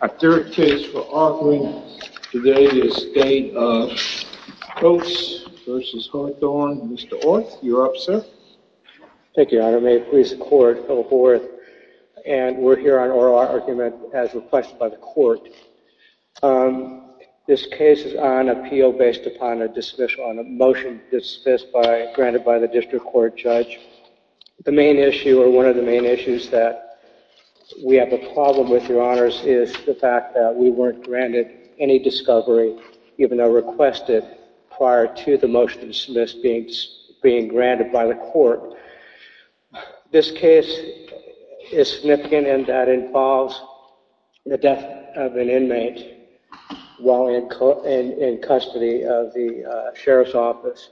A third case for argument today is State of Coats v. Hawthorne. Mr. Orth, you're up, sir. Thank you, Your Honor. May it please the Court, Phil Hawthorne. And we're here on oral argument as requested by the Court. This case is on appeal based upon a motion dismissed by, granted by the District Court Judge. The main issue, or one of the main issues that we have a problem with, Your Honors, is the fact that we weren't granted any discovery, even though requested prior to the motion dismissed being granted by the Court. This case is significant in that it involves the death of an inmate while in custody of the Sheriff's Office.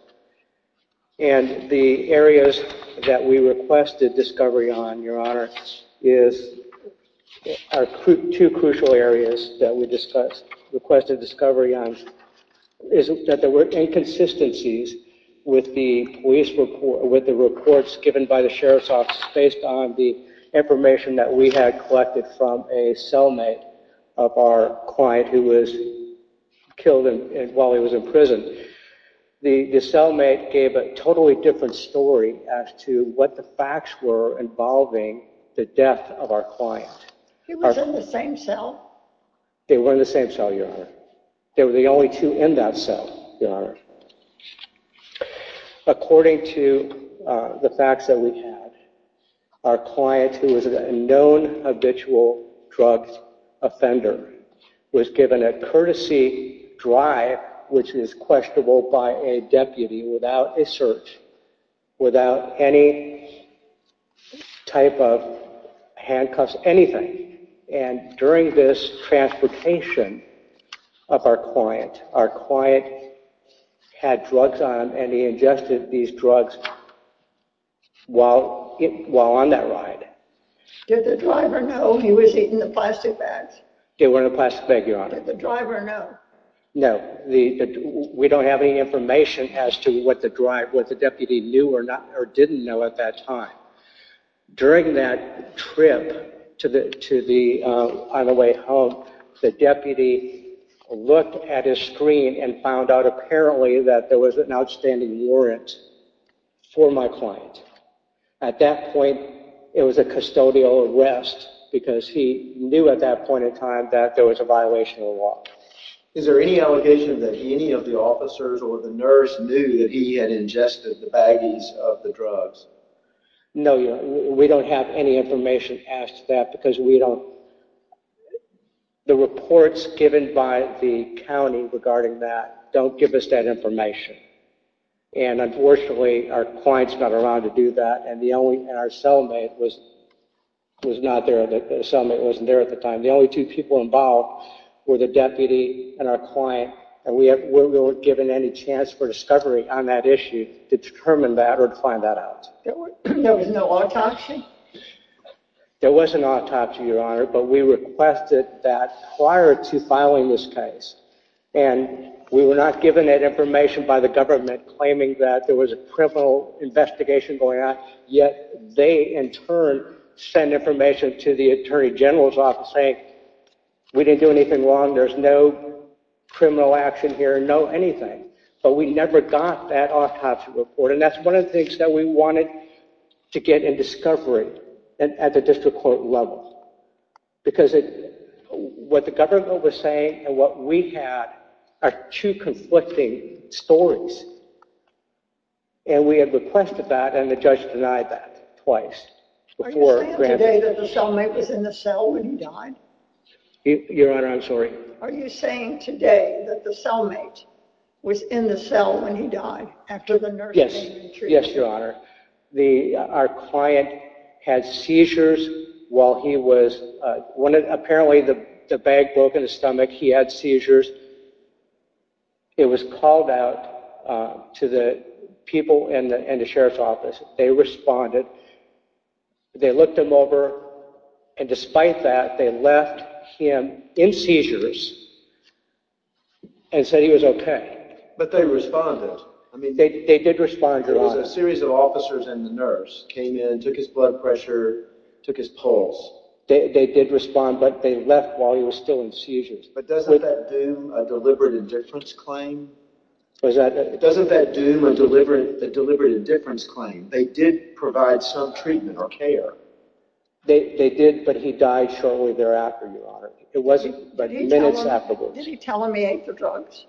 And the areas that we requested discovery on, Your Honor, are two crucial areas that we requested discovery on, is that there were inconsistencies with the police report, with the reports given by the Sheriff's Office based on the information that we had collected from a cellmate of our client who was killed while he was in prison. The cellmate gave a totally different story as to what the facts were involving the death of our client. He was in the same cell? They were in the same cell, Your Honor. They were the only two in that cell, Your Honor. According to the facts that we had, our client, who was a known habitual drug offender, was given a courtesy drive, which is questionable by a deputy, without a search, without any type of handcuffs, anything. And during this transportation of our client, our client had drugs on him and he ingested these drugs while on that ride. Did the driver know he was eating the plastic bags? They were in a plastic bag, Your Honor. Did the driver know? No. We don't have any information as to what the deputy knew or didn't know at that time. During that trip on the way home, the deputy looked at his screen and found out, apparently, that there was an outstanding warrant for my client. At that point, it was a custodial arrest because he knew at that point in time that there was a violation of the law. Is there any allegation that any of the officers or the nurse knew that he had ingested the baggies of the drugs? No, Your Honor. We don't have any information as to that because we don't... The reports given by the county regarding that don't give us that information. And unfortunately, our clients got around to do that, and our cellmate was not there. The cellmate wasn't there at the time. The only two people involved were the deputy and our client, and we weren't given any chance for discovery on that issue to determine that or to find that out. There was no autopsy? There was an autopsy, Your Honor, but we requested that prior to filing this case. And we were not given that information by the government claiming that there was a criminal investigation going on, yet they, in turn, sent information to the Attorney General's office saying, we didn't do anything wrong, there's no criminal action here, no anything. But we never got that autopsy report, and that's one of the things that we wanted to get in discovery at the district court level. Because what the government was saying and what we had are two conflicting stories. And we had requested that, and the judge denied that twice. Are you saying today that the cellmate was in the cell when he died? Your Honor, I'm sorry? Are you saying today that the cellmate was in the cell when he died after the nursing and treatment? Yes, Your Honor. Our client had seizures while he was, apparently the bag broke in his stomach, he had seizures. It was called out to the people in the sheriff's office. They responded. They looked him over, and despite that, they left him in seizures and said he was okay. But they responded. They did respond, Your Honor. There was a series of officers and the nurse came in, took his blood pressure, took his pulse. They did respond, but they left while he was still in seizures. But doesn't that doom a deliberate indifference claim? Doesn't that doom a deliberate indifference claim? They did provide some treatment or care. They did, but he died shortly thereafter, Your Honor. It wasn't minutes afterwards. Did he tell them he ate the drugs?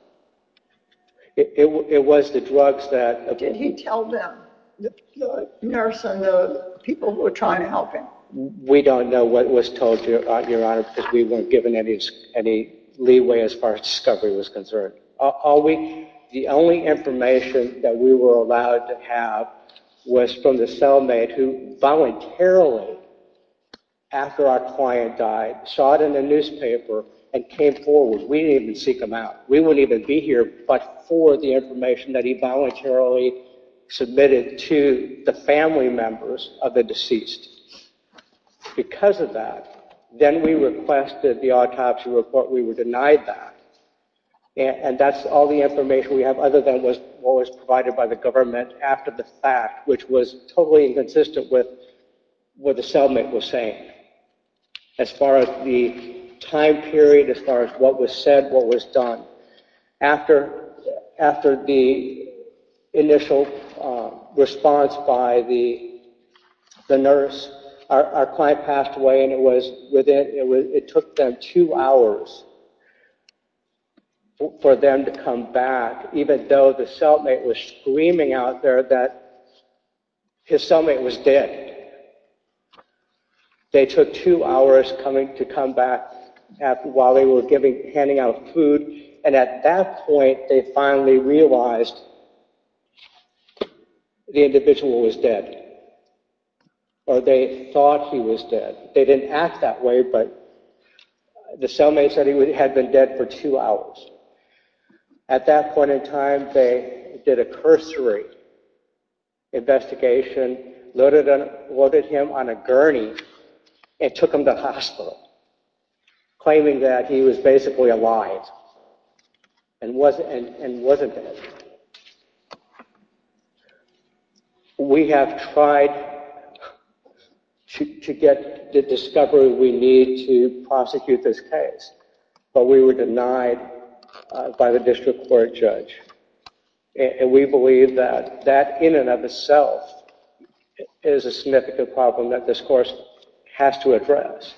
It was the drugs that... Did he tell them, the nurse and the people who were trying to help him? We don't know what was told, Your Honor, because we weren't given any leeway as far as discovery was concerned. The only information that we were allowed to have was from the cellmate who voluntarily, after our client died, saw it in the newspaper and came forward. We didn't even seek him out. We wouldn't even be here but for the information that he voluntarily submitted to the family members of the deceased. Because of that, then we requested the autopsy report. We were denied that. And that's all the information we have other than what was provided by the government after the fact, which was totally inconsistent with what the cellmate was saying. As far as the time period, as far as what was said, what was done. After the initial response by the nurse, our client passed away and it took them two hours for them to come back, even though the cellmate was screaming out there that his cellmate was dead. They took two hours to come back while they were handing out food and at that point they finally realized the individual was dead. Or they thought he was dead. They didn't act that way but the cellmate said he had been dead for two hours. At that point in time, they did a cursory investigation, loaded him on a gurney and took him to hospital, claiming that he was basically alive and wasn't dead. We have tried to get the discovery we need to prosecute this case, but we were denied by the district court judge. And we believe that that in and of itself is a significant problem that this course has to address.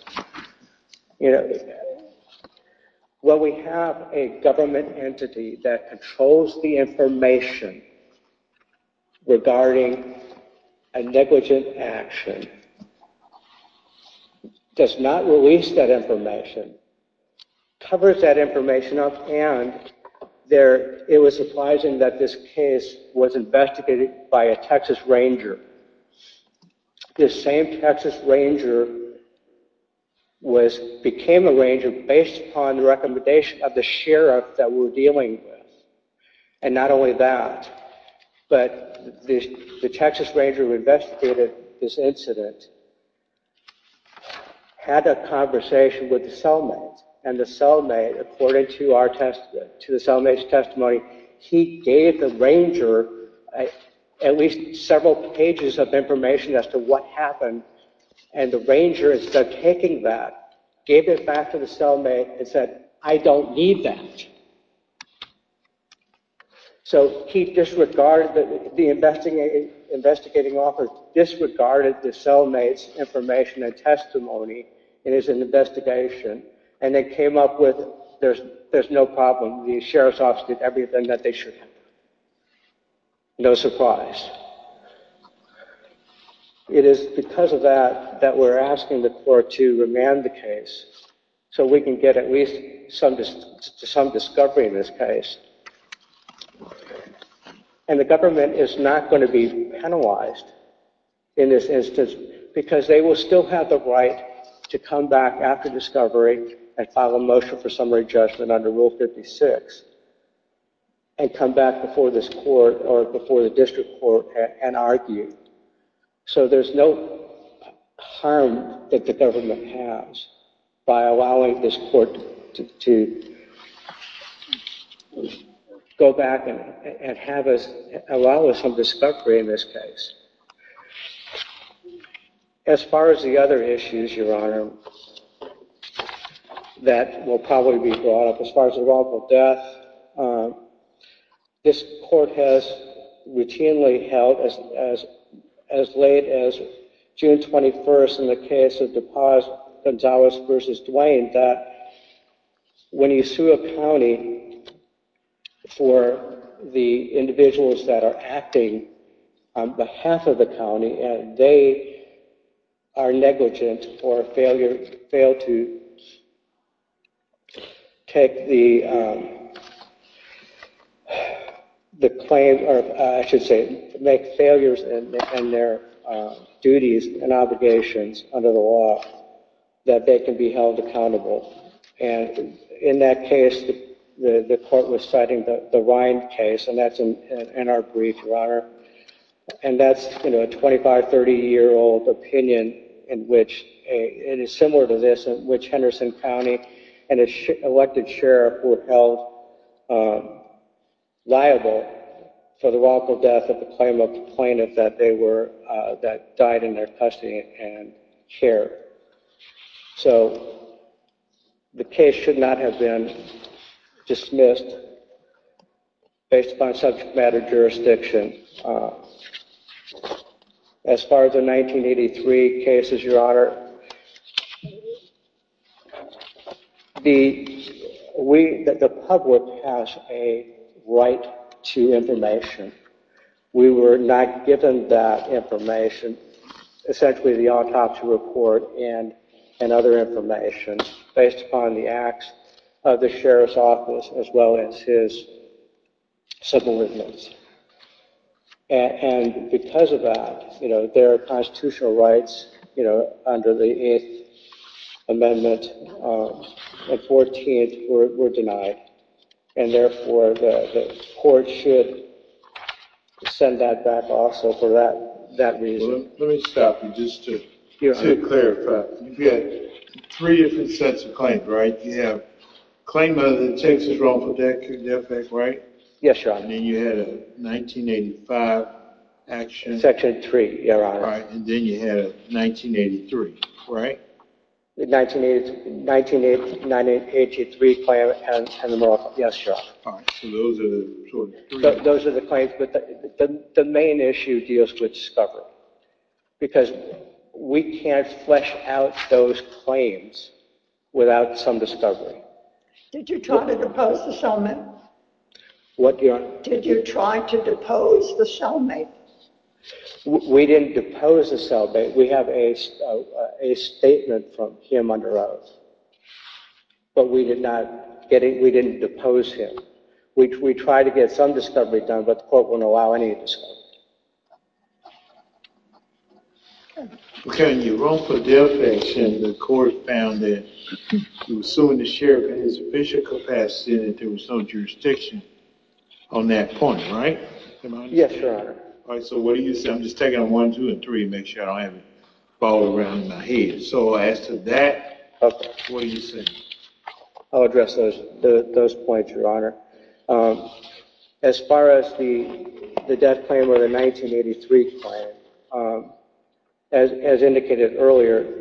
When we have a government entity that controls the information regarding a negligent action, does not release that information, covers that information up and it was surprising that this case was investigated by a Texas Ranger. This same Texas Ranger became a ranger based upon the recommendation of the sheriff that we were dealing with. And not only that, but the Texas Ranger who investigated this incident had a conversation with the cellmate. And the cellmate, according to the cellmate's testimony, he gave the ranger at least several pages of information as to what happened. And the ranger instead of taking that, gave it back to the cellmate and said, I don't need that. So he disregarded, the investigating officer disregarded the cellmate's information and testimony in his investigation. And they came up with, there's no problem, the sheriff's office did everything that they should have. No surprise. It is because of that that we're asking the court to remand the case so we can get at least some discovery in this case. And the government is not going to be penalized in this instance because they will still have the right to come back after discovery and file a motion for summary judgment under Rule 56 and come back before this court or before the district court and argue. So there's no harm that the government has by allowing this court to go back and allow us some discovery in this case. As far as the other issues, Your Honor, that will probably be brought up. As far as the role of death, this court has routinely held as late as June 21st in the case of DePaz-Gonzalez v. Duane that when you sue a county for the individuals that are acting on behalf of the county and they are negligent or fail to take the claim, or I should say make failures in their duties and obligations under the law, that they can be held accountable. And in that case, the court was citing the Rind case, and that's in our brief, Your Honor. And that's a 25, 30-year-old opinion in which it is similar to this in which Henderson County and its elected sheriff were held liable for the wrongful death of the plaintiff that died in their custody and care. So the case should not have been dismissed based upon subject matter jurisdiction. As far as the 1983 cases, Your Honor, the public has a right to information. We were not given that information, essentially the autopsy report and other information, based upon the acts of the sheriff's office as well as his civil limits. And because of that, their constitutional rights under the Eighth Amendment and 14th were denied. And therefore, the court should send that back also for that reason. Let me stop you just to clarify. You've got three different sets of claims, right? You have the claim of the Texas wrongful death act, right? Yes, Your Honor. And then you had a 1985 action. Section 3, Your Honor. Right, and then you had a 1983, right? The 1983 claim and the Moroccan. Yes, Your Honor. All right, so those are the three. Those are the claims, but the main issue deals with discovery. Because we can't flesh out those claims without some discovery. Did you try to propose the settlement? What, Your Honor? Did you try to depose the cellmate? We didn't depose the cellmate. We have a statement from him under oath, but we didn't depose him. We tried to get some discovery done, but the court wouldn't allow any discovery. Okay, on your wrongful death action, the court found that you were suing the sheriff in his official capacity and that there was some jurisdiction on that point, right? Yes, Your Honor. All right, so what do you say? I'm just taking on one, two, and three to make sure I don't have it fall around in my head. So as to that, what do you say? I'll address those points, Your Honor. As far as the death claim or the 1983 claim, as indicated earlier,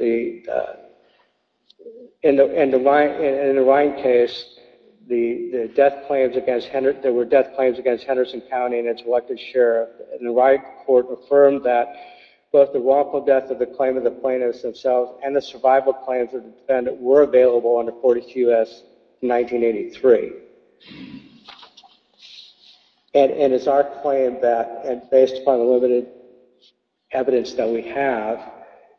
in the Ryan case, there were death claims against Henderson County and its elected sheriff, and the Ryan court affirmed that both the wrongful death of the claimant, the plaintiffs themselves, and the survival claims of the defendant were available under 42S 1983. And it's our claim that, based upon the limited evidence that we have,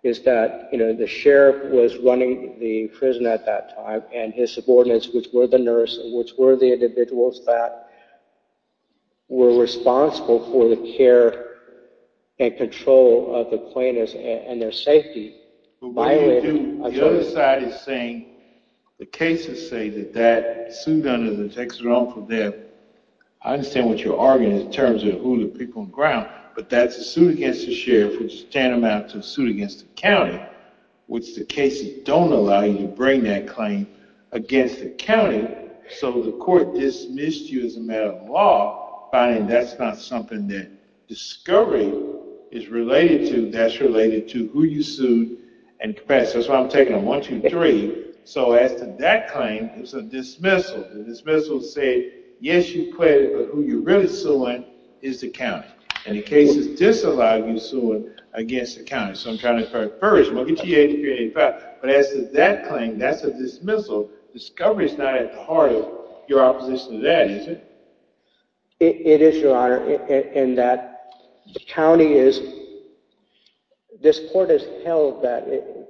is that the sheriff was running the prison at that time, and his subordinates, which were the nurses, which were the individuals that were responsible for the care and control of the plaintiffs and their safety, violated a judgment. But what you do, the other side is saying, the cases say that that suit under the Texas wrongful death, I understand what you're arguing in terms of who the people on the ground, but that's a suit against the sheriff, which is tantamount to a suit against the county, which the cases don't allow you to bring that claim against the county, so the court dismissed you as a matter of law, finding that's not something that discovery is related to, that's related to who you sued, and that's why I'm taking a one, two, three. So as to that claim, it's a dismissal. The dismissal said, yes, you quit, but who you're really suing is the county, and the cases disallow you suing against the county. So I'm trying to encourage them, I'll get you 83, 85, but as to that claim, that's a dismissal. Discovery's not at the heart of your opposition to that, is it? It is, Your Honor, in that the county is, this court has held that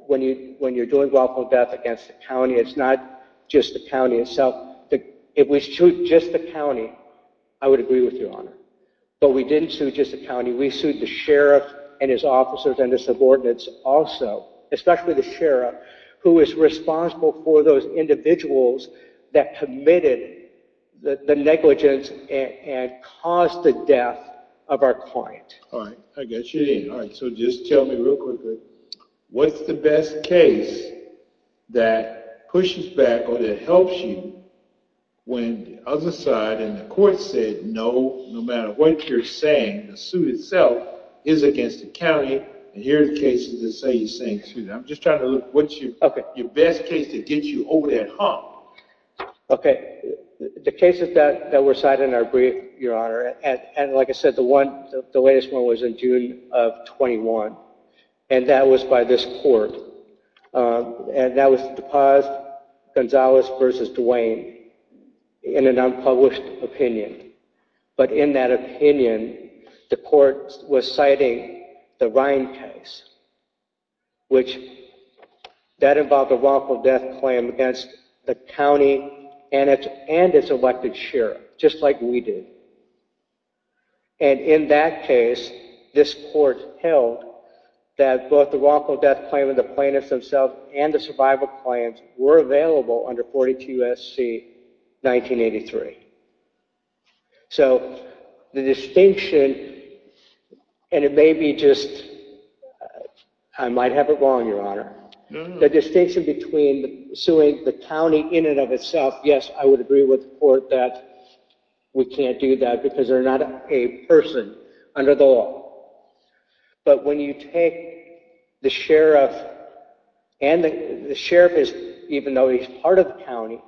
when you're doing wrongful death against the county, it's not just the county itself. If we sued just the county, I would agree with Your Honor. But we didn't sue just the county, we sued the sheriff and his officers and his subordinates also, especially the sheriff, who is responsible for those individuals that committed the negligence and caused the death of our client. All right, I got you there. All right, so just tell me real quickly, what's the best case that pushes back or that helps you when the other side and the court said no, no matter what you're saying, the suit itself is against the county, and here are the cases that say you're saying, excuse me, I'm just trying to look, what's your best case to get you over that hump? Okay, the cases that were cited in our brief, Your Honor, and like I said, the latest one was in June of 21, and that was by this court, and that was DePaz-Gonzalez v. Duane in an unpublished opinion. But in that opinion, the court was citing the Ryan case, which that involved a wrongful death claim against the county and its elected sheriff, just like we did. And in that case, this court held that both the wrongful death claim and the plaintiffs themselves and the survival claims were available under 42 SC 1983. So the distinction, and it may be just, I might have it wrong, Your Honor, the distinction between suing the county in and of itself, yes, I would agree with the court that we can't do that because they're not a person under the law. But when you take the sheriff, and the sheriff is, even though he's part of the county,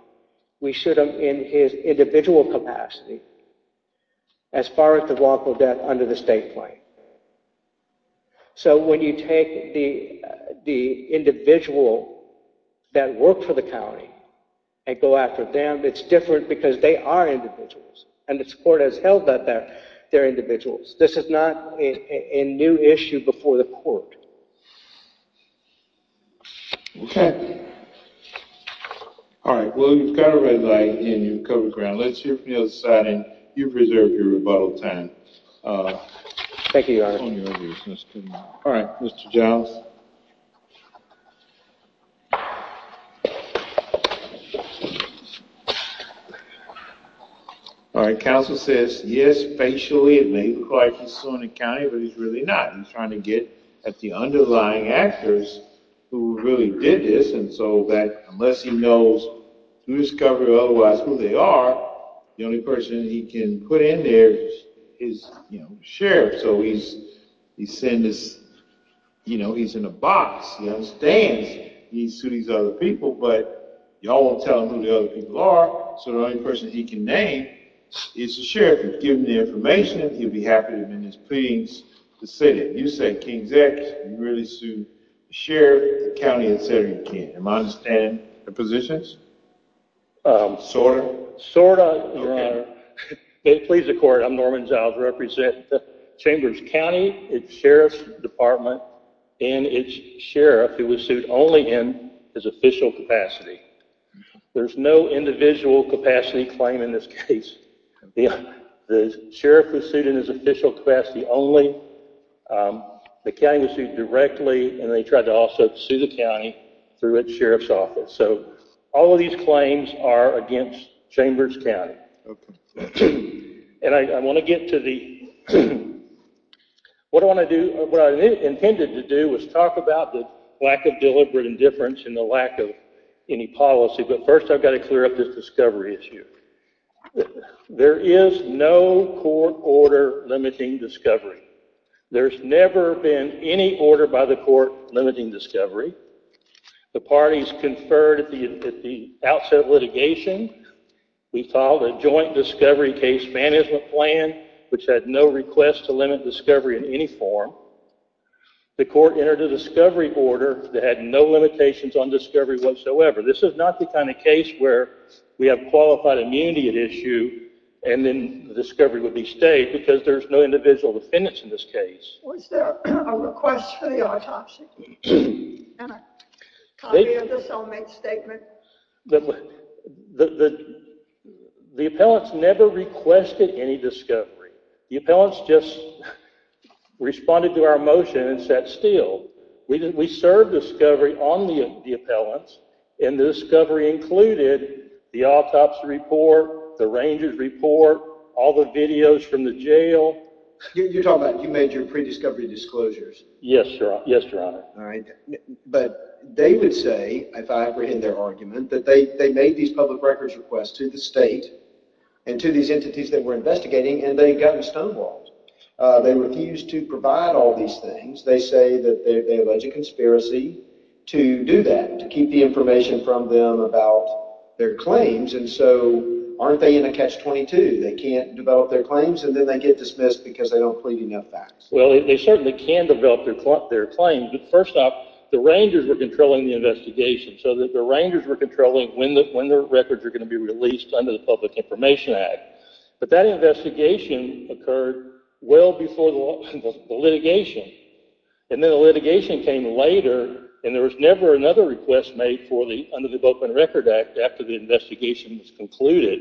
we shoot him in his individual capacity as far as the wrongful death under the state claim. So when you take the individual that worked for the county and go after them, it's different because they are individuals, and this court has held that they're individuals. This is not a new issue before the court. Okay. All right. Well, you've got a red light, and you've covered the ground. Let's hear from the other side, and you preserve your rebuttal time. Thank you, Your Honor. All right, Mr. Jones. All right, counsel says, yes, facially, it may look like he's suing the county, but he's really not. He's trying to get at the underlying actors who really did this, and so that unless he knows through discovery or otherwise who they are, the only person he can put in there is, you know, the sheriff. So he's saying this, you know, he's in a box. He understands he's suing these other people, but you all want to tell him who the other people are, so the only person he can name is the sheriff. If you give him the information, he'll be happy to amend his pleadings to say that. You say King's X, you really sued the sheriff, the county, et cetera, you can't. Am I understanding the positions? Sort of? Sort of, Your Honor. Please accord, I'm Norman Giles, represent Chambers County, its sheriff's department, and its sheriff who was sued only in his official capacity. There's no individual capacity claim in this case. The sheriff was sued in his official capacity only. The county was sued directly, and they tried to also sue the county through its sheriff's office. So all of these claims are against Chambers County. And I want to get to the, what I intended to do was talk about the lack of deliberate indifference and the lack of any policy, but first I've got to clear up this discovery issue. There is no court order limiting discovery. There's never been any order by the court limiting discovery. The parties conferred at the outset of litigation, we filed a joint discovery case management plan, which had no request to limit discovery in any form. The court entered a discovery order that had no limitations on discovery whatsoever. This is not the kind of case where we have qualified immunity at issue and then the discovery would be stayed because there's no individual defendants in this case. Was there a request for the autopsy? And a copy of the soul mate statement? The appellants never requested any discovery. The appellants just responded to our motion and sat still. We served discovery on the appellants, and the discovery included the autopsy report, the ranger's report, all the videos from the jail. You're talking about you made your pre-discovery disclosures. Yes, Your Honor. But they would say, if I apprehend their argument, that they made these public records requests to the state and to these entities that were investigating, and they had gotten stonewalled. They refused to provide all these things. They say that they allege a conspiracy to do that, to keep the information from them about their claims, and so aren't they in a catch-22? They can't develop their claims and then they get dismissed because they don't plead enough facts. Well, they certainly can develop their claims, but first off, the rangers were controlling the investigation, so the rangers were controlling when their records were going to be released under the Public Information Act. But that investigation occurred well before the litigation, and then the litigation came later, and there was never another request made under the Open Record Act after the investigation was concluded.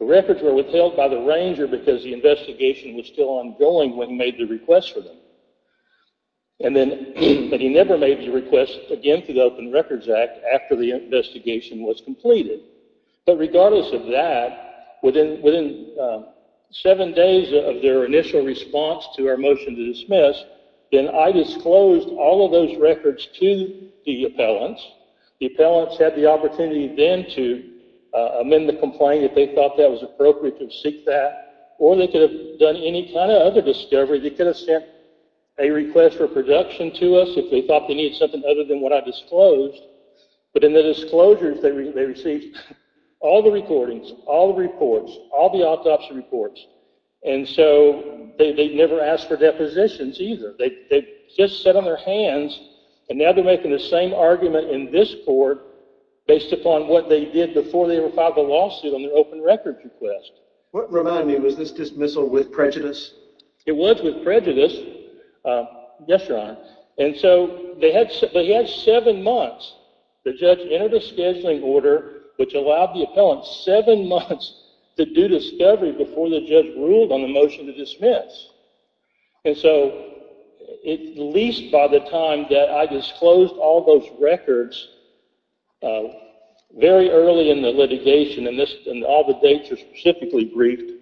The records were withheld by the ranger because the investigation was still ongoing when he made the request for them. But he never made the request again through the Open Records Act after the investigation was completed. But regardless of that, within seven days of their initial response to our motion to dismiss, then I disclosed all of those records to the appellants. The appellants had the opportunity then to amend the complaint if they thought that was appropriate and seek that, or they could have done any kind of other discovery. They could have sent a request for production to us if they thought they needed something other than what I disclosed. But in the disclosures, they received all the recordings, all the reports, all the autopsy reports. And so they never asked for depositions either. They just sat on their hands, and now they're making the same argument in this court based upon what they did before they ever filed a lawsuit on their open records request. What reminded me, was this dismissal with prejudice? It was with prejudice. Yes, Your Honor. And so they had seven months. The judge entered a scheduling order which allowed the appellants seven months to do discovery before the judge ruled on the motion to dismiss. And so at least by the time that I disclosed all those records, very early in the litigation, and all the dates are specifically briefed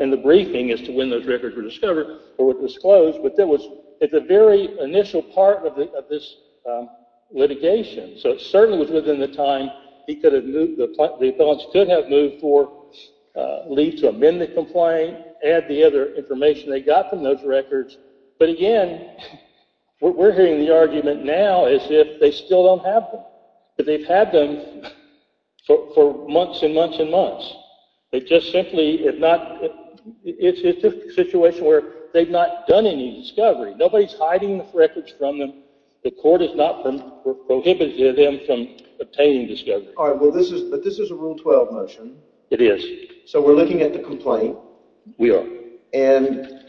in the briefing as to when those records were discovered or were disclosed, but it's a very initial part of this litigation. So it certainly was within the time the appellants could have moved for leave to amend the complaint, add the other information they got from those records. But again, we're hearing the argument now as if they still don't have them. They've had them for months and months and months. It's just a situation where they've not done any discovery. Nobody's hiding the records from them. The court has not prohibited them from obtaining discovery. All right, but this is a Rule 12 motion. It is. So we're looking at the complaint. We are. And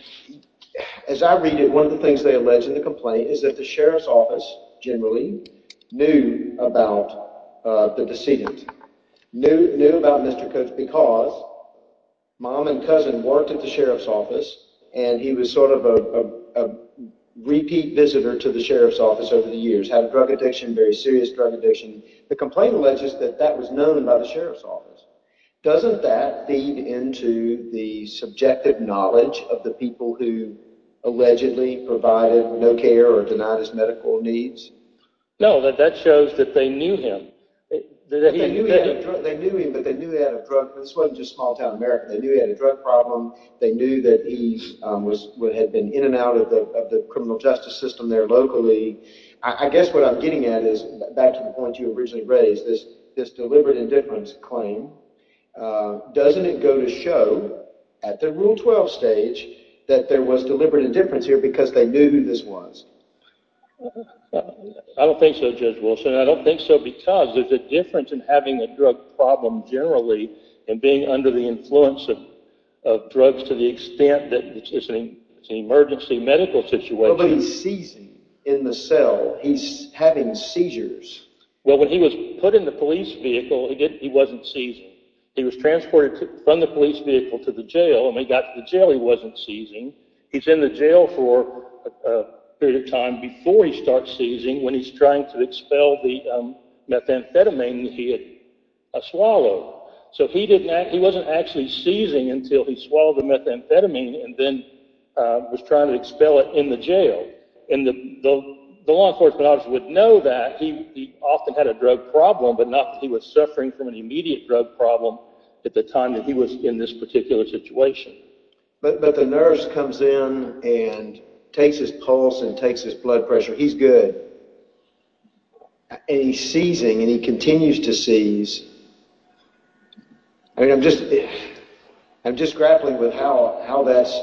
as I read it, one of the things they allege in the complaint is that the sheriff's office generally knew about the decedent, knew about Mr. Cooks because mom and cousin worked at the sheriff's office and he was sort of a repeat visitor to the sheriff's office over the years, had a drug addiction, very serious drug addiction. The complaint alleges that that was known by the sheriff's office. Doesn't that feed into the subjective knowledge of the people who allegedly provided no care or denied his medical needs? No, that shows that they knew him. They knew him, but they knew he had a drug problem. This wasn't just small-town America. They knew he had a drug problem. They knew that he had been in and out of the criminal justice system there locally. I guess what I'm getting at is back to the point you originally raised, this deliberate indifference claim. Doesn't it go to show at the Rule 12 stage that there was deliberate indifference here because they knew who this was? I don't think so, Judge Wilson. I don't think so because there's a difference in having a drug problem generally and being under the influence of drugs to the extent that it's an emergency medical situation. Well, but he's seizing in the cell. He's having seizures. Well, when he was put in the police vehicle, he wasn't seizing. He was transported from the police vehicle to the jail, and when he got to the jail, he wasn't seizing. He's in the jail for a period of time before he starts seizing when he's trying to expel the methamphetamine he had swallowed. So he wasn't actually seizing until he swallowed the methamphetamine and then was trying to expel it in the jail. And the law enforcement officer would know that he often had a drug problem, but not that he was suffering from an immediate drug problem at the time that he was in this particular situation. But the nurse comes in and takes his pulse and takes his blood pressure. He's good. And he's seizing, and he continues to seize. I mean, I'm just grappling with how that's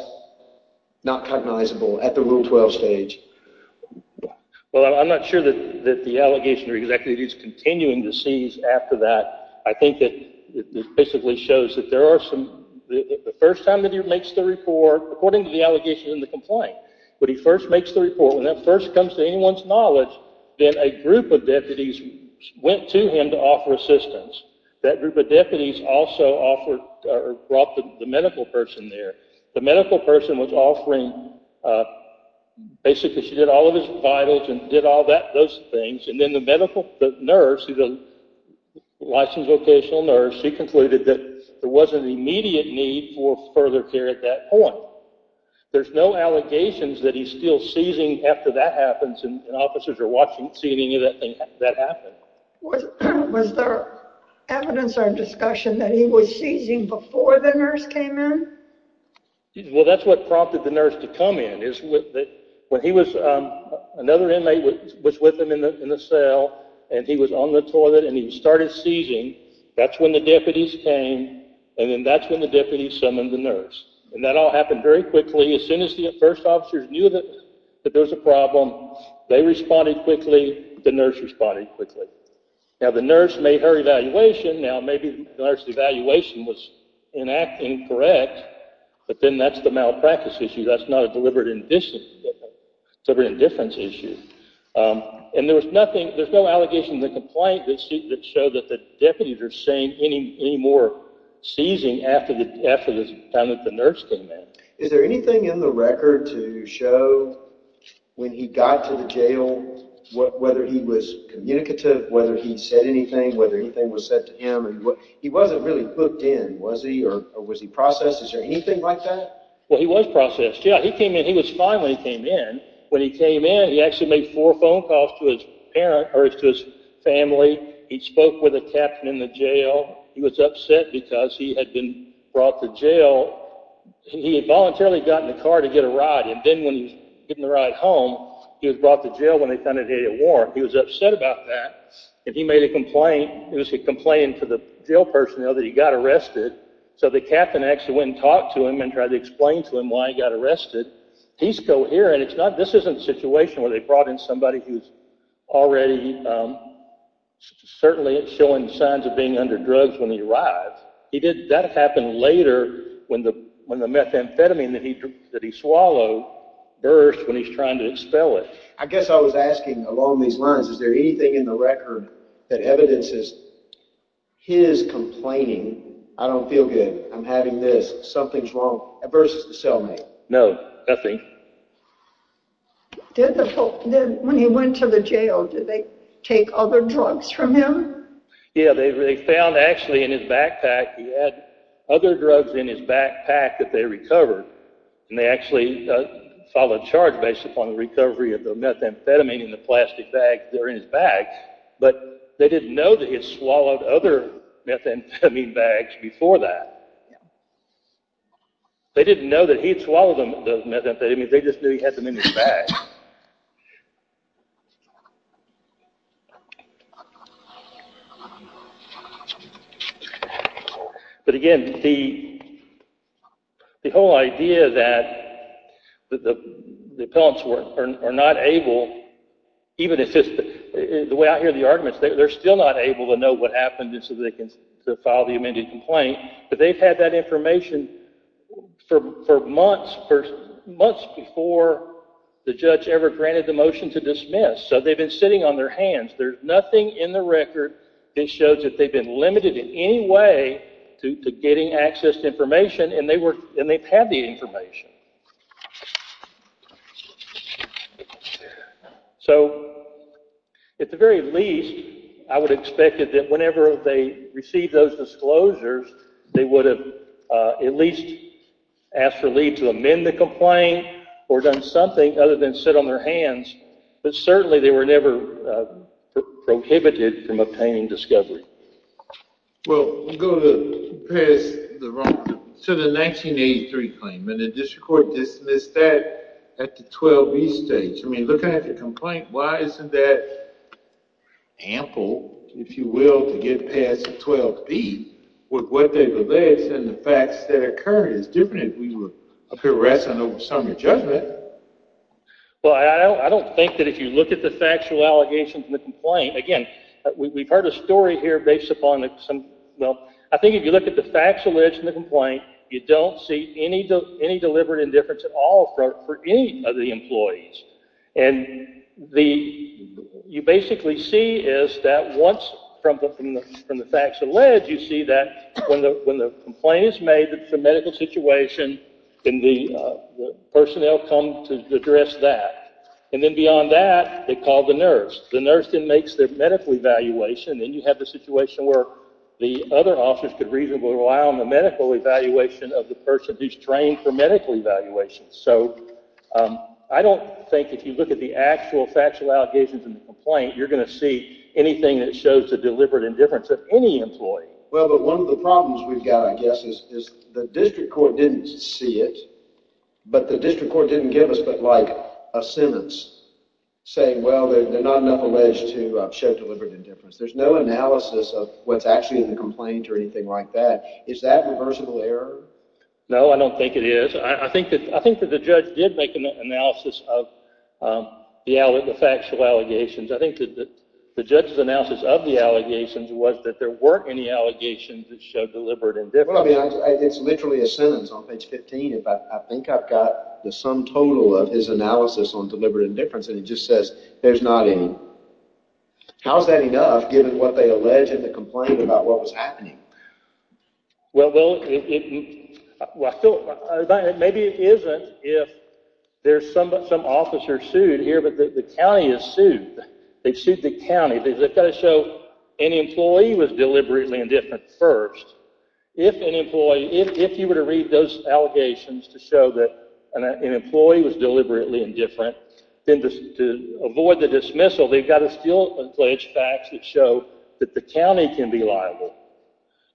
not cognizable at the Rule 12 stage. Well, I'm not sure that the allegation or exactly that he's continuing to seize after that. I think that it basically shows that there are some the first time that he makes the report, according to the allegation in the complaint, when he first makes the report, when that first comes to anyone's knowledge, then a group of deputies went to him to offer assistance. That group of deputies also brought the medical person there. The medical person was offering, basically she did all of his vitals and did all those things. And then the nurse, the licensed vocational nurse, she concluded that there was an immediate need for further care at that point. There's no allegations that he's still seizing after that happens and officers are watching to see if any of that happened. Was there evidence or discussion that he was seizing before the nurse came in? Well, that's what prompted the nurse to come in. Another inmate was with him in the cell, and he was on the toilet, and he started seizing. That's when the deputies came, and then that's when the deputies summoned the nurse. And that all happened very quickly. As soon as the first officers knew that there was a problem, they responded quickly. The nurse responded quickly. Now, the nurse made her evaluation. Now, maybe the nurse's evaluation was incorrect, but then that's the malpractice issue. That's not a deliberate indifference issue. And there's no allegations in the complaint that show that the deputies are saying any more seizing after the time that the nurse came in. Is there anything in the record to show when he got to the jail, whether he was communicative, whether he said anything, whether anything was said to him? He wasn't really hooked in, was he, or was he processed? Is there anything like that? Well, he was processed, yeah. He came in. He was fine when he came in. When he came in, he actually made four phone calls to his family. He spoke with a captain in the jail. He was upset because he had been brought to jail. He voluntarily got in the car to get a ride, and then when he was getting the ride home, he was brought to jail when they found out he had a warrant. He was upset about that, and he made a complaint. It was a complaint for the jail personnel that he got arrested, so the captain actually went and talked to him and tried to explain to him why he got arrested. He's coherent. This isn't a situation where they brought in somebody who's already certainly showing signs of being under drugs when he arrived. That happened later when the methamphetamine that he swallowed burst when he was trying to expel it. I guess I was asking along these lines, is there anything in the record that evidences his complaining, I don't feel good, I'm having this, something's wrong, versus the cellmate? No, nothing. When he went to the jail, did they take other drugs from him? Yeah, they found actually in his backpack, he had other drugs in his backpack that they recovered, and they actually filed a charge based upon the recovery of the methamphetamine in the plastic bag that was in his bag, but they didn't know that he had swallowed other methamphetamine bags before that. They didn't know that he had swallowed those methamphetamines, they just knew he had them in his bag. But again, the whole idea that the appellants are not able, even the way I hear the arguments, they're still not able to know what happened so they can file the amended complaint, but they've had that information for months before the judge ever granted the motion to dismiss, so they've been sitting on their hands. There's nothing in the record that shows that they've been limited in any way to getting access to information, and they've had the information. So, at the very least, I would expect that whenever they received those disclosures, they would have at least asked for leave to amend the complaint, or done something other than sit on their hands, but certainly they were never prohibited from obtaining discovery. Well, we'll go to the 1983 claim, and the district court dismissed that at the 12B stage. I mean, looking at the complaint, why isn't that ample, if you will, to get past the 12B, with what they've alleged and the facts that occurred, it's different than if we were harassing over summary judgment. Well, I don't think that if you look at the factual allegations in the complaint, again, we've heard a story here based upon some... Well, I think if you look at the facts alleged in the complaint, you don't see any deliberate indifference at all for any of the employees. And you basically see is that once, from the facts alleged, you see that when the complaint is made, it's a medical situation, and the personnel come to address that. And then beyond that, they call the nurse. The nurse then makes their medical evaluation, and then you have the situation where the other officers could reasonably rely on the medical evaluation of the person who's trained for medical evaluation. So I don't think if you look at the actual factual allegations in the complaint, you're going to see anything that shows the deliberate indifference of any employee. Well, but one of the problems we've got, I guess, is the district court didn't see it, but the district court didn't give us but, like, a sentence saying, well, they're not enough alleged to show deliberate indifference. There's no analysis of what's actually in the complaint or anything like that. Is that reversible error? No, I don't think it is. I think that the judge did make an analysis of the factual allegations. I think the judge's analysis of the allegations was that there weren't any allegations that showed deliberate indifference. Well, I mean, it's literally a sentence on page 15. I think I've got the sum total of his analysis on deliberate indifference, and it just says there's not any. How's that enough, given what they allege in the complaint about what was happening? Well, maybe it isn't if there's some officer sued here, but the county is sued. They sued the county. They've got to show an employee was deliberately indifferent first. If you were to read those allegations to show that an employee was deliberately indifferent, then to avoid the dismissal, they've got to still allege facts that show that the county can be liable,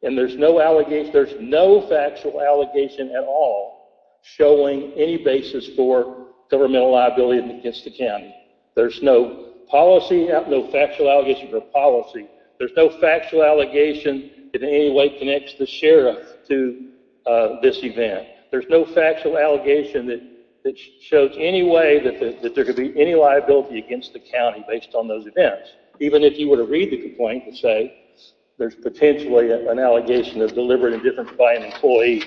and there's no factual allegation at all showing any basis for governmental liability against the county. There's no policy, no factual allegation for policy. There's no factual allegation that in any way connects the sheriff to this event. There's no factual allegation that shows any way that there could be any liability against the county based on those events. Even if you were to read the complaint and say there's potentially an allegation of deliberate indifference by an employee.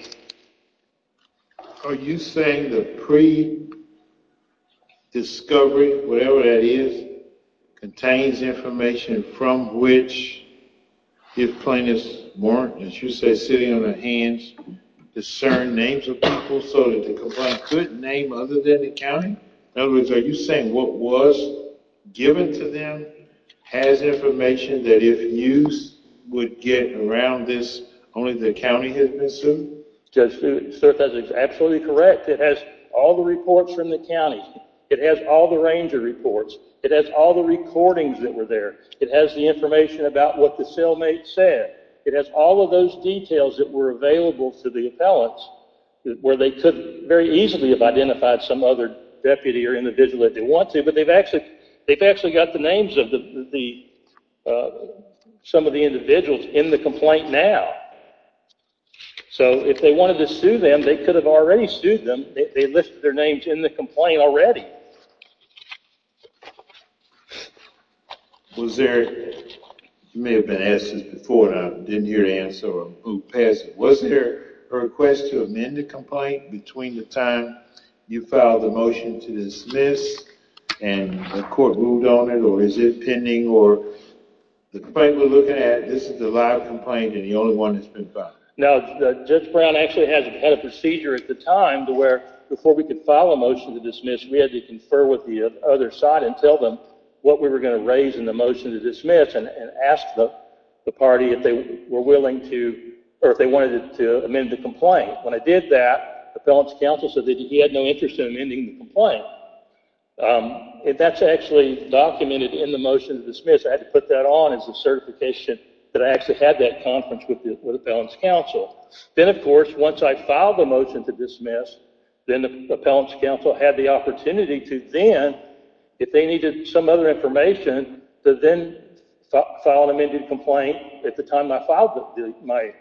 Are you saying the pre-discovery, whatever that is, contains information from which if plaintiffs weren't, as you say, sitting on their hands, discern names of people so that the complaint couldn't name other than the county? In other words, are you saying what was given to them has information that if news would get around this, only the county had been sued? Judge, sir, that is absolutely correct. It has all the reports from the county. It has all the ranger reports. It has all the recordings that were there. It has the information about what the cellmate said. It has all of those details that were available to the appellants where they could very easily have identified some other deputy or individual that they want to, but they've actually got the names of some of the individuals in the complaint now. So if they wanted to sue them, they could have already sued them. They listed their names in the complaint already. You may have been asked this before, and I didn't hear the answer of who passed it. Was there a request to amend the complaint between the time you filed the motion to dismiss and the court moved on it, or is it pending? The complaint we're looking at, this is the live complaint, and the only one that's been filed. Now, Judge Brown actually had a procedure at the time to where, before we could file a motion to dismiss, we had to confer with the other side and tell them what we were going to raise in the motion to dismiss and ask the party if they were willing to or if they wanted to amend the complaint. When I did that, the appellant's counsel said that he had no interest in amending the complaint. That's actually documented in the motion to dismiss. I had to put that on as a certification that I actually had that conference with the appellant's counsel. Then, of course, once I filed the motion to dismiss, then the appellant's counsel had the opportunity to then, if they needed some other information, to then file an amended complaint at the time I filed my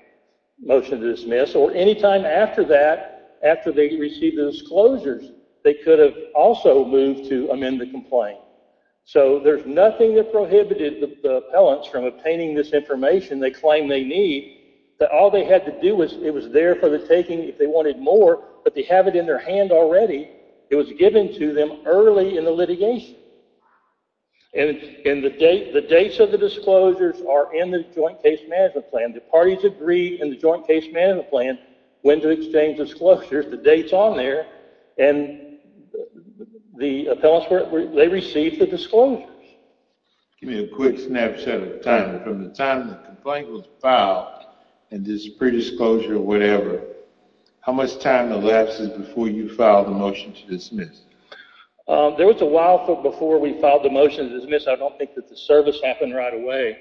motion to dismiss, or any time after that, after they received the disclosures, they could have also moved to amend the complaint. There's nothing that prohibited the appellants from obtaining this information they claim they need. All they had to do was, it was there for the taking if they wanted more, but they have it in their hand already. It was given to them early in the litigation. The dates of the disclosures are in the Joint Case Management Plan. The parties agree in the Joint Case Management Plan when to exchange disclosures. Here's the dates on there. The appellants received the disclosures. Give me a quick snapshot of time. From the time the complaint was filed and this predisclosure or whatever, how much time elapses before you file the motion to dismiss? There was a while before we filed the motion to dismiss. I don't think that the service happened right away.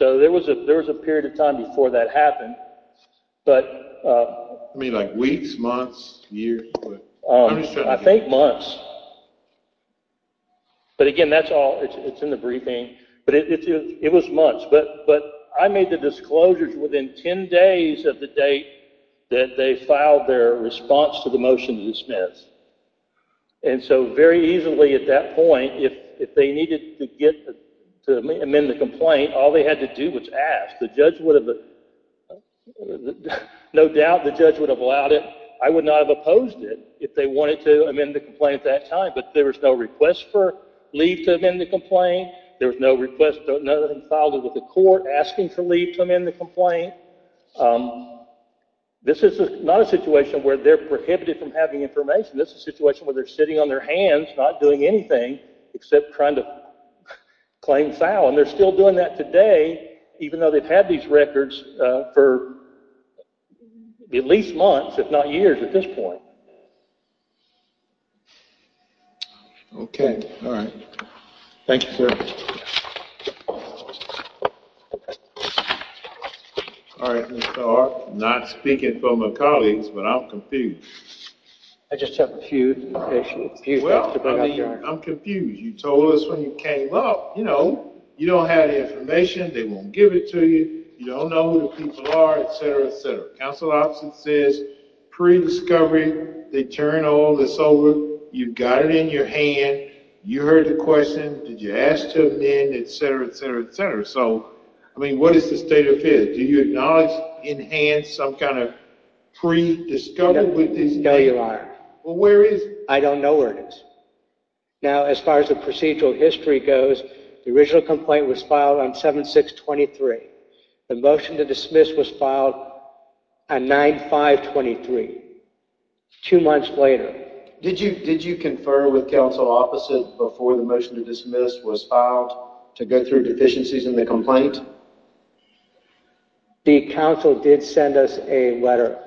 There was a period of time before that happened. Weeks? Months? Years? I think months. Again, it's in the briefing. It was months. I made the disclosures within 10 days of the date that they filed their response to the motion to dismiss. Very easily at that point, if they needed to amend the complaint, all they had to do was ask. No doubt the judge would have allowed it. I would not have opposed it if they wanted to amend the complaint at that time. But there was no request for leave to amend the complaint. There was no request to file it with the court asking to leave to amend the complaint. This is not a situation where they're prohibited from having information. This is a situation where they're sitting on their hands, not doing anything, except trying to claim foul. They're still doing that today, even though they've had these records for at least months, if not years at this point. I'm not speaking for my colleagues, but I'm confused. I'm confused. You told us when you came up, you know, you don't have the information. They won't give it to you. You don't know who the people are, et cetera, et cetera. Counsel's office says pre-discovery. They turn all this over. You've got it in your hand. You heard the question. Did you ask to amend, et cetera, et cetera, et cetera. So, I mean, what is the state of affairs? Do you acknowledge in hand some kind of pre-discovery? No, Your Honor. Well, where is it? I don't know where it is. Now, as far as the procedural history goes, the original complaint was filed on 7-6-23. The motion to dismiss was filed on 9-5-23, two months later. Did you confer with counsel's offices before the motion to dismiss was filed to go through deficiencies in the complaint? The counsel did send us a letter.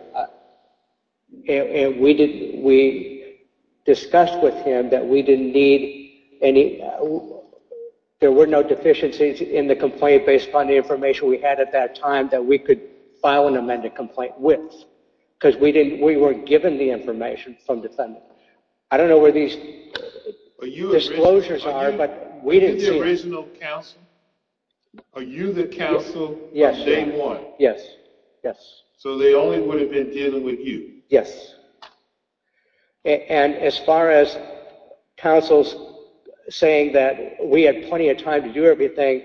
And we discussed with him that we didn't need any – there were no deficiencies in the complaint based upon the information we had at that time that we could file an amended complaint with, because we weren't given the information from defendants. I don't know where these disclosures are, but we didn't see them. Are you the original counsel? Are you the counsel from day one? Yes, yes. So they only would have been dealing with you? And as far as counsel's saying that we had plenty of time to do everything,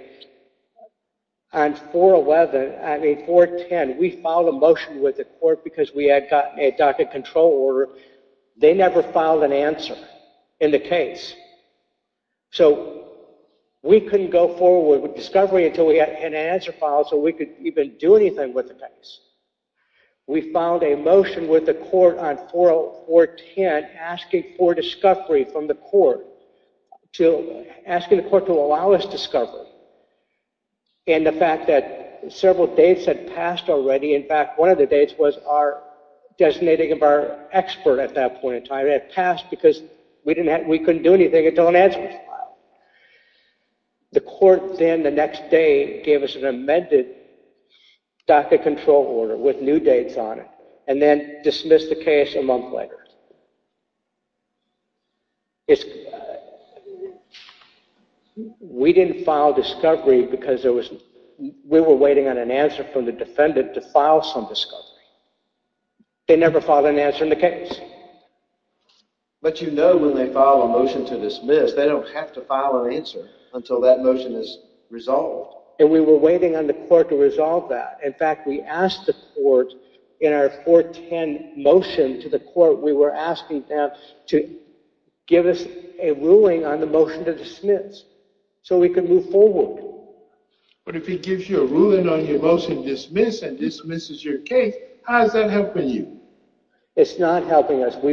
on 4-10 we filed a motion with the court because we had gotten a docket control order. They never filed an answer in the case. So we couldn't go forward with discovery until we had an answer filed so we could even do anything with the case. We filed a motion with the court on 4-10 asking for discovery from the court, asking the court to allow us discovery. And the fact that several dates had passed already – in fact, one of the dates was our designating of our expert at that point in time. And it had passed because we couldn't do anything until an answer was filed. The court then the next day gave us an amended docket control order with new dates on it and then dismissed the case a month later. We didn't file discovery because we were waiting on an answer from the defendant to file some discovery. They never filed an answer in the case. But you know when they file a motion to dismiss, they don't have to file an answer until that motion is resolved. And we were waiting on the court to resolve that. In fact, we asked the court in our 4-10 motion to the court, we were asking them to give us a ruling on the motion to dismiss so we could move forward. But if it gives you a ruling on your motion to dismiss and dismisses your case, how is that helping you? It's not helping us. We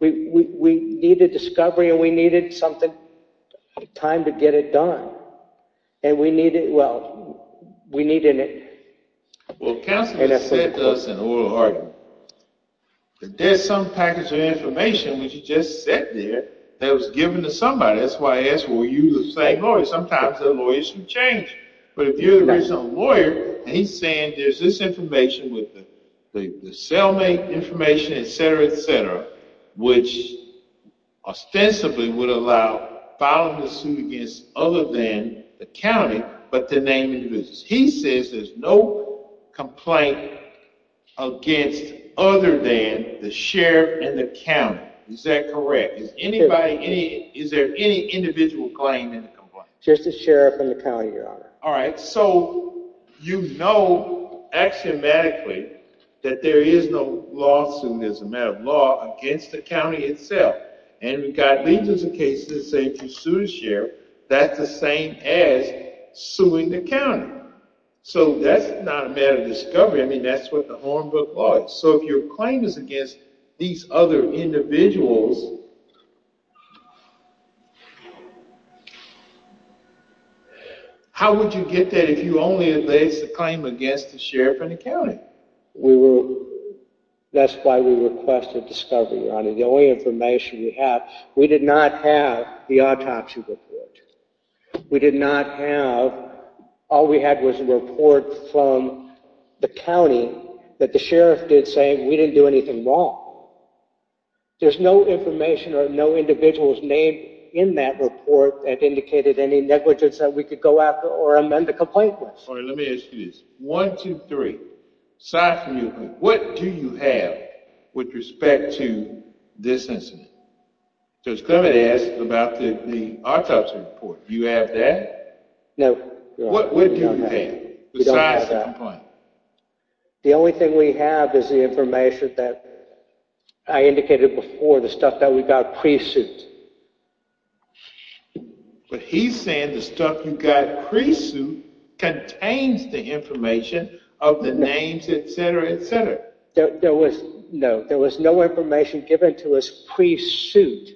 needed discovery and we needed time to get it done. Well, counsel has said to us in oral argument that there's some package of information that you just said there that was given to somebody. That's why I asked were you the same lawyer. Sometimes the lawyers can change. But if you're the original lawyer and he's saying there's this information with the cellmate information, et cetera, et cetera, which ostensibly would allow filing a suit against other than the county, but to name individuals. He says there's no complaint against other than the sheriff and the county. Is that correct? Is there any individual claim in the complaint? Just the sheriff and the county, Your Honor. All right. So you know axiomatically that there is no lawsuit, there's a matter of law, against the county itself. And we've got legions of cases that say if you sue the sheriff, that's the same as suing the county. So that's not a matter of discovery. I mean, that's what the Hornbook law is. So if your claim is against these other individuals, how would you get that if you only laced a claim against the sheriff and the county? That's why we requested discovery, Your Honor. The only information we have, we did not have the autopsy report. We did not have, all we had was a report from the county that the sheriff did say, we didn't do anything wrong. There's no information or no individuals named in that report that indicated any negligence that we could go after or amend the complaint with. All right. Let me ask you this. One, two, three. Aside from you, what do you have with respect to this incident? Judge Clement asked about the autopsy report. Do you have that? No, Your Honor. What do you have besides the complaint? The only thing we have is the information that I indicated before, the stuff that we got pre-suit. But he's saying the stuff you got pre-suit contains the information of the names, et cetera, et cetera. No, there was no information given to us pre-suit.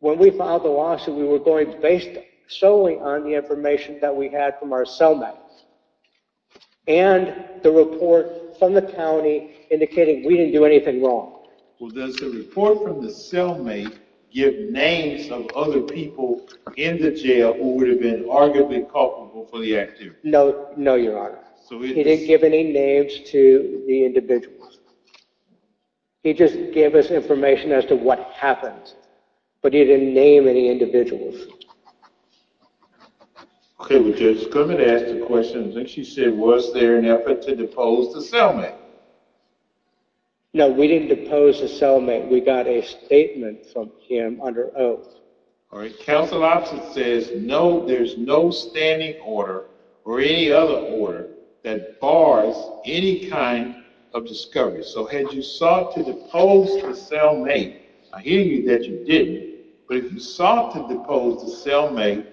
When we filed the lawsuit, we were going based solely on the information that we had from our cellmates and the report from the county indicating we didn't do anything wrong. Well, does the report from the cellmate give names of other people in the jail who would have been arguably culpable for the act, too? No, Your Honor. He didn't give any names to the individuals. He just gave us information as to what happened, but he didn't name any individuals. Okay, well, Judge Clement asked a question. I think she said, was there an effort to depose the cellmate? No, we didn't depose the cellmate. We got a statement from him under oath. Council Officer says there's no standing order or any other order that bars any kind of discovery. So had you sought to depose the cellmate? I hear you that you didn't, but if you sought to depose the cellmate,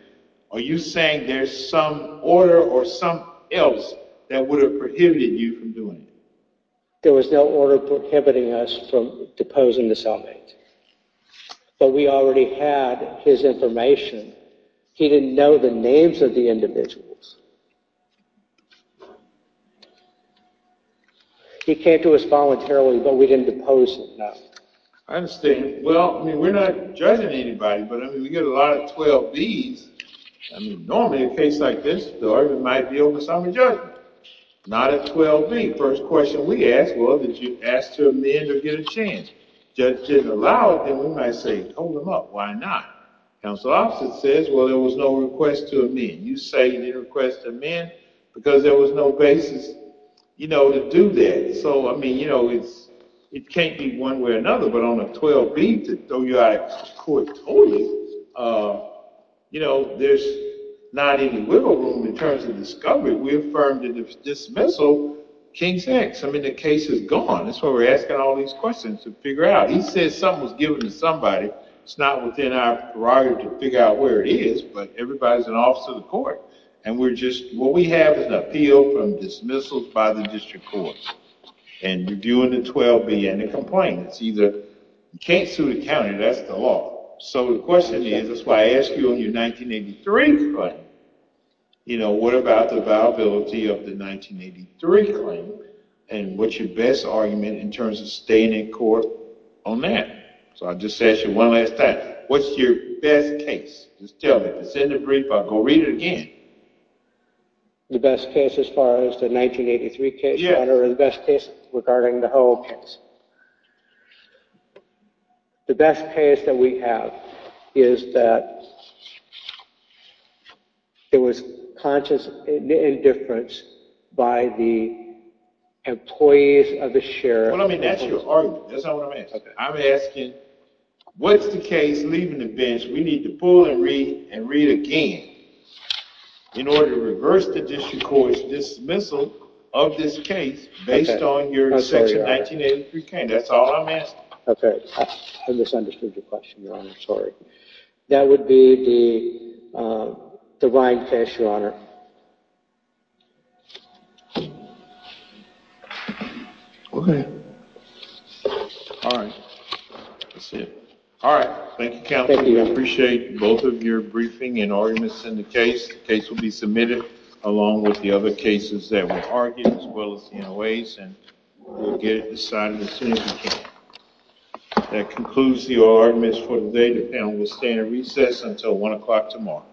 are you saying there's some order or something else that would have prohibited you from doing it? There was no order prohibiting us from deposing the cellmate. But we already had his information. He didn't know the names of the individuals. He came to us voluntarily, but we didn't depose him, no. I understand. Well, I mean, we're not judging anybody, but I mean, we get a lot of 12Bs. I mean, normally in a case like this, the argument might be over the sum of judgment. Not a 12B. First question we ask, well, did you ask to amend or get a change? Judge didn't allow it. Then we might say, hold him up. Why not? Council Officer says, well, there was no request to amend. You say you didn't request to amend because there was no basis to do that. So I mean, it can't be one way or another, but on a 12B to throw you out of court totally, there's not any wiggle room in terms of discovery. We affirmed in the dismissal King's X. I mean, the case is gone. That's why we're asking all these questions to figure out. He says something was given to somebody. It's not within our prerogative to figure out where it is, but everybody's an officer of the court. And what we have is an appeal from dismissals by the district courts. And you're doing a 12B and a complaint. It's either you can't sue the county. That's the law. So the question is, that's why I asked you on your 1983 claim, what about the viability of the 1983 claim? And what's your best argument in terms of staying in court on that? So I'll just ask you one last time, what's your best case? Just tell me. It's in the brief. I'll go read it again. The best case as far as the 1983 case, Your Honor, or the best case regarding the whole case? The best case that we have is that it was conscious indifference by the employees of the sheriff. Well, I mean, that's your argument. That's not what I'm asking. I'm asking, what's the case leaving the bench? We need to pull and read and read again in order to reverse the district dismissal of this case based on your section 1983 claim. That's all I'm asking. I misunderstood your question, Your Honor. Sorry. That would be the Ryan case, Your Honor. OK. All right. That's it. All right. Thank you, counsel. We appreciate both of your briefing and arguments in the case. The case will be submitted along with the other cases that were argued, as well as the NOAs, and we'll get it decided as soon as we can. That concludes the oral arguments for today. The panel will stay in recess until 1 o'clock tomorrow.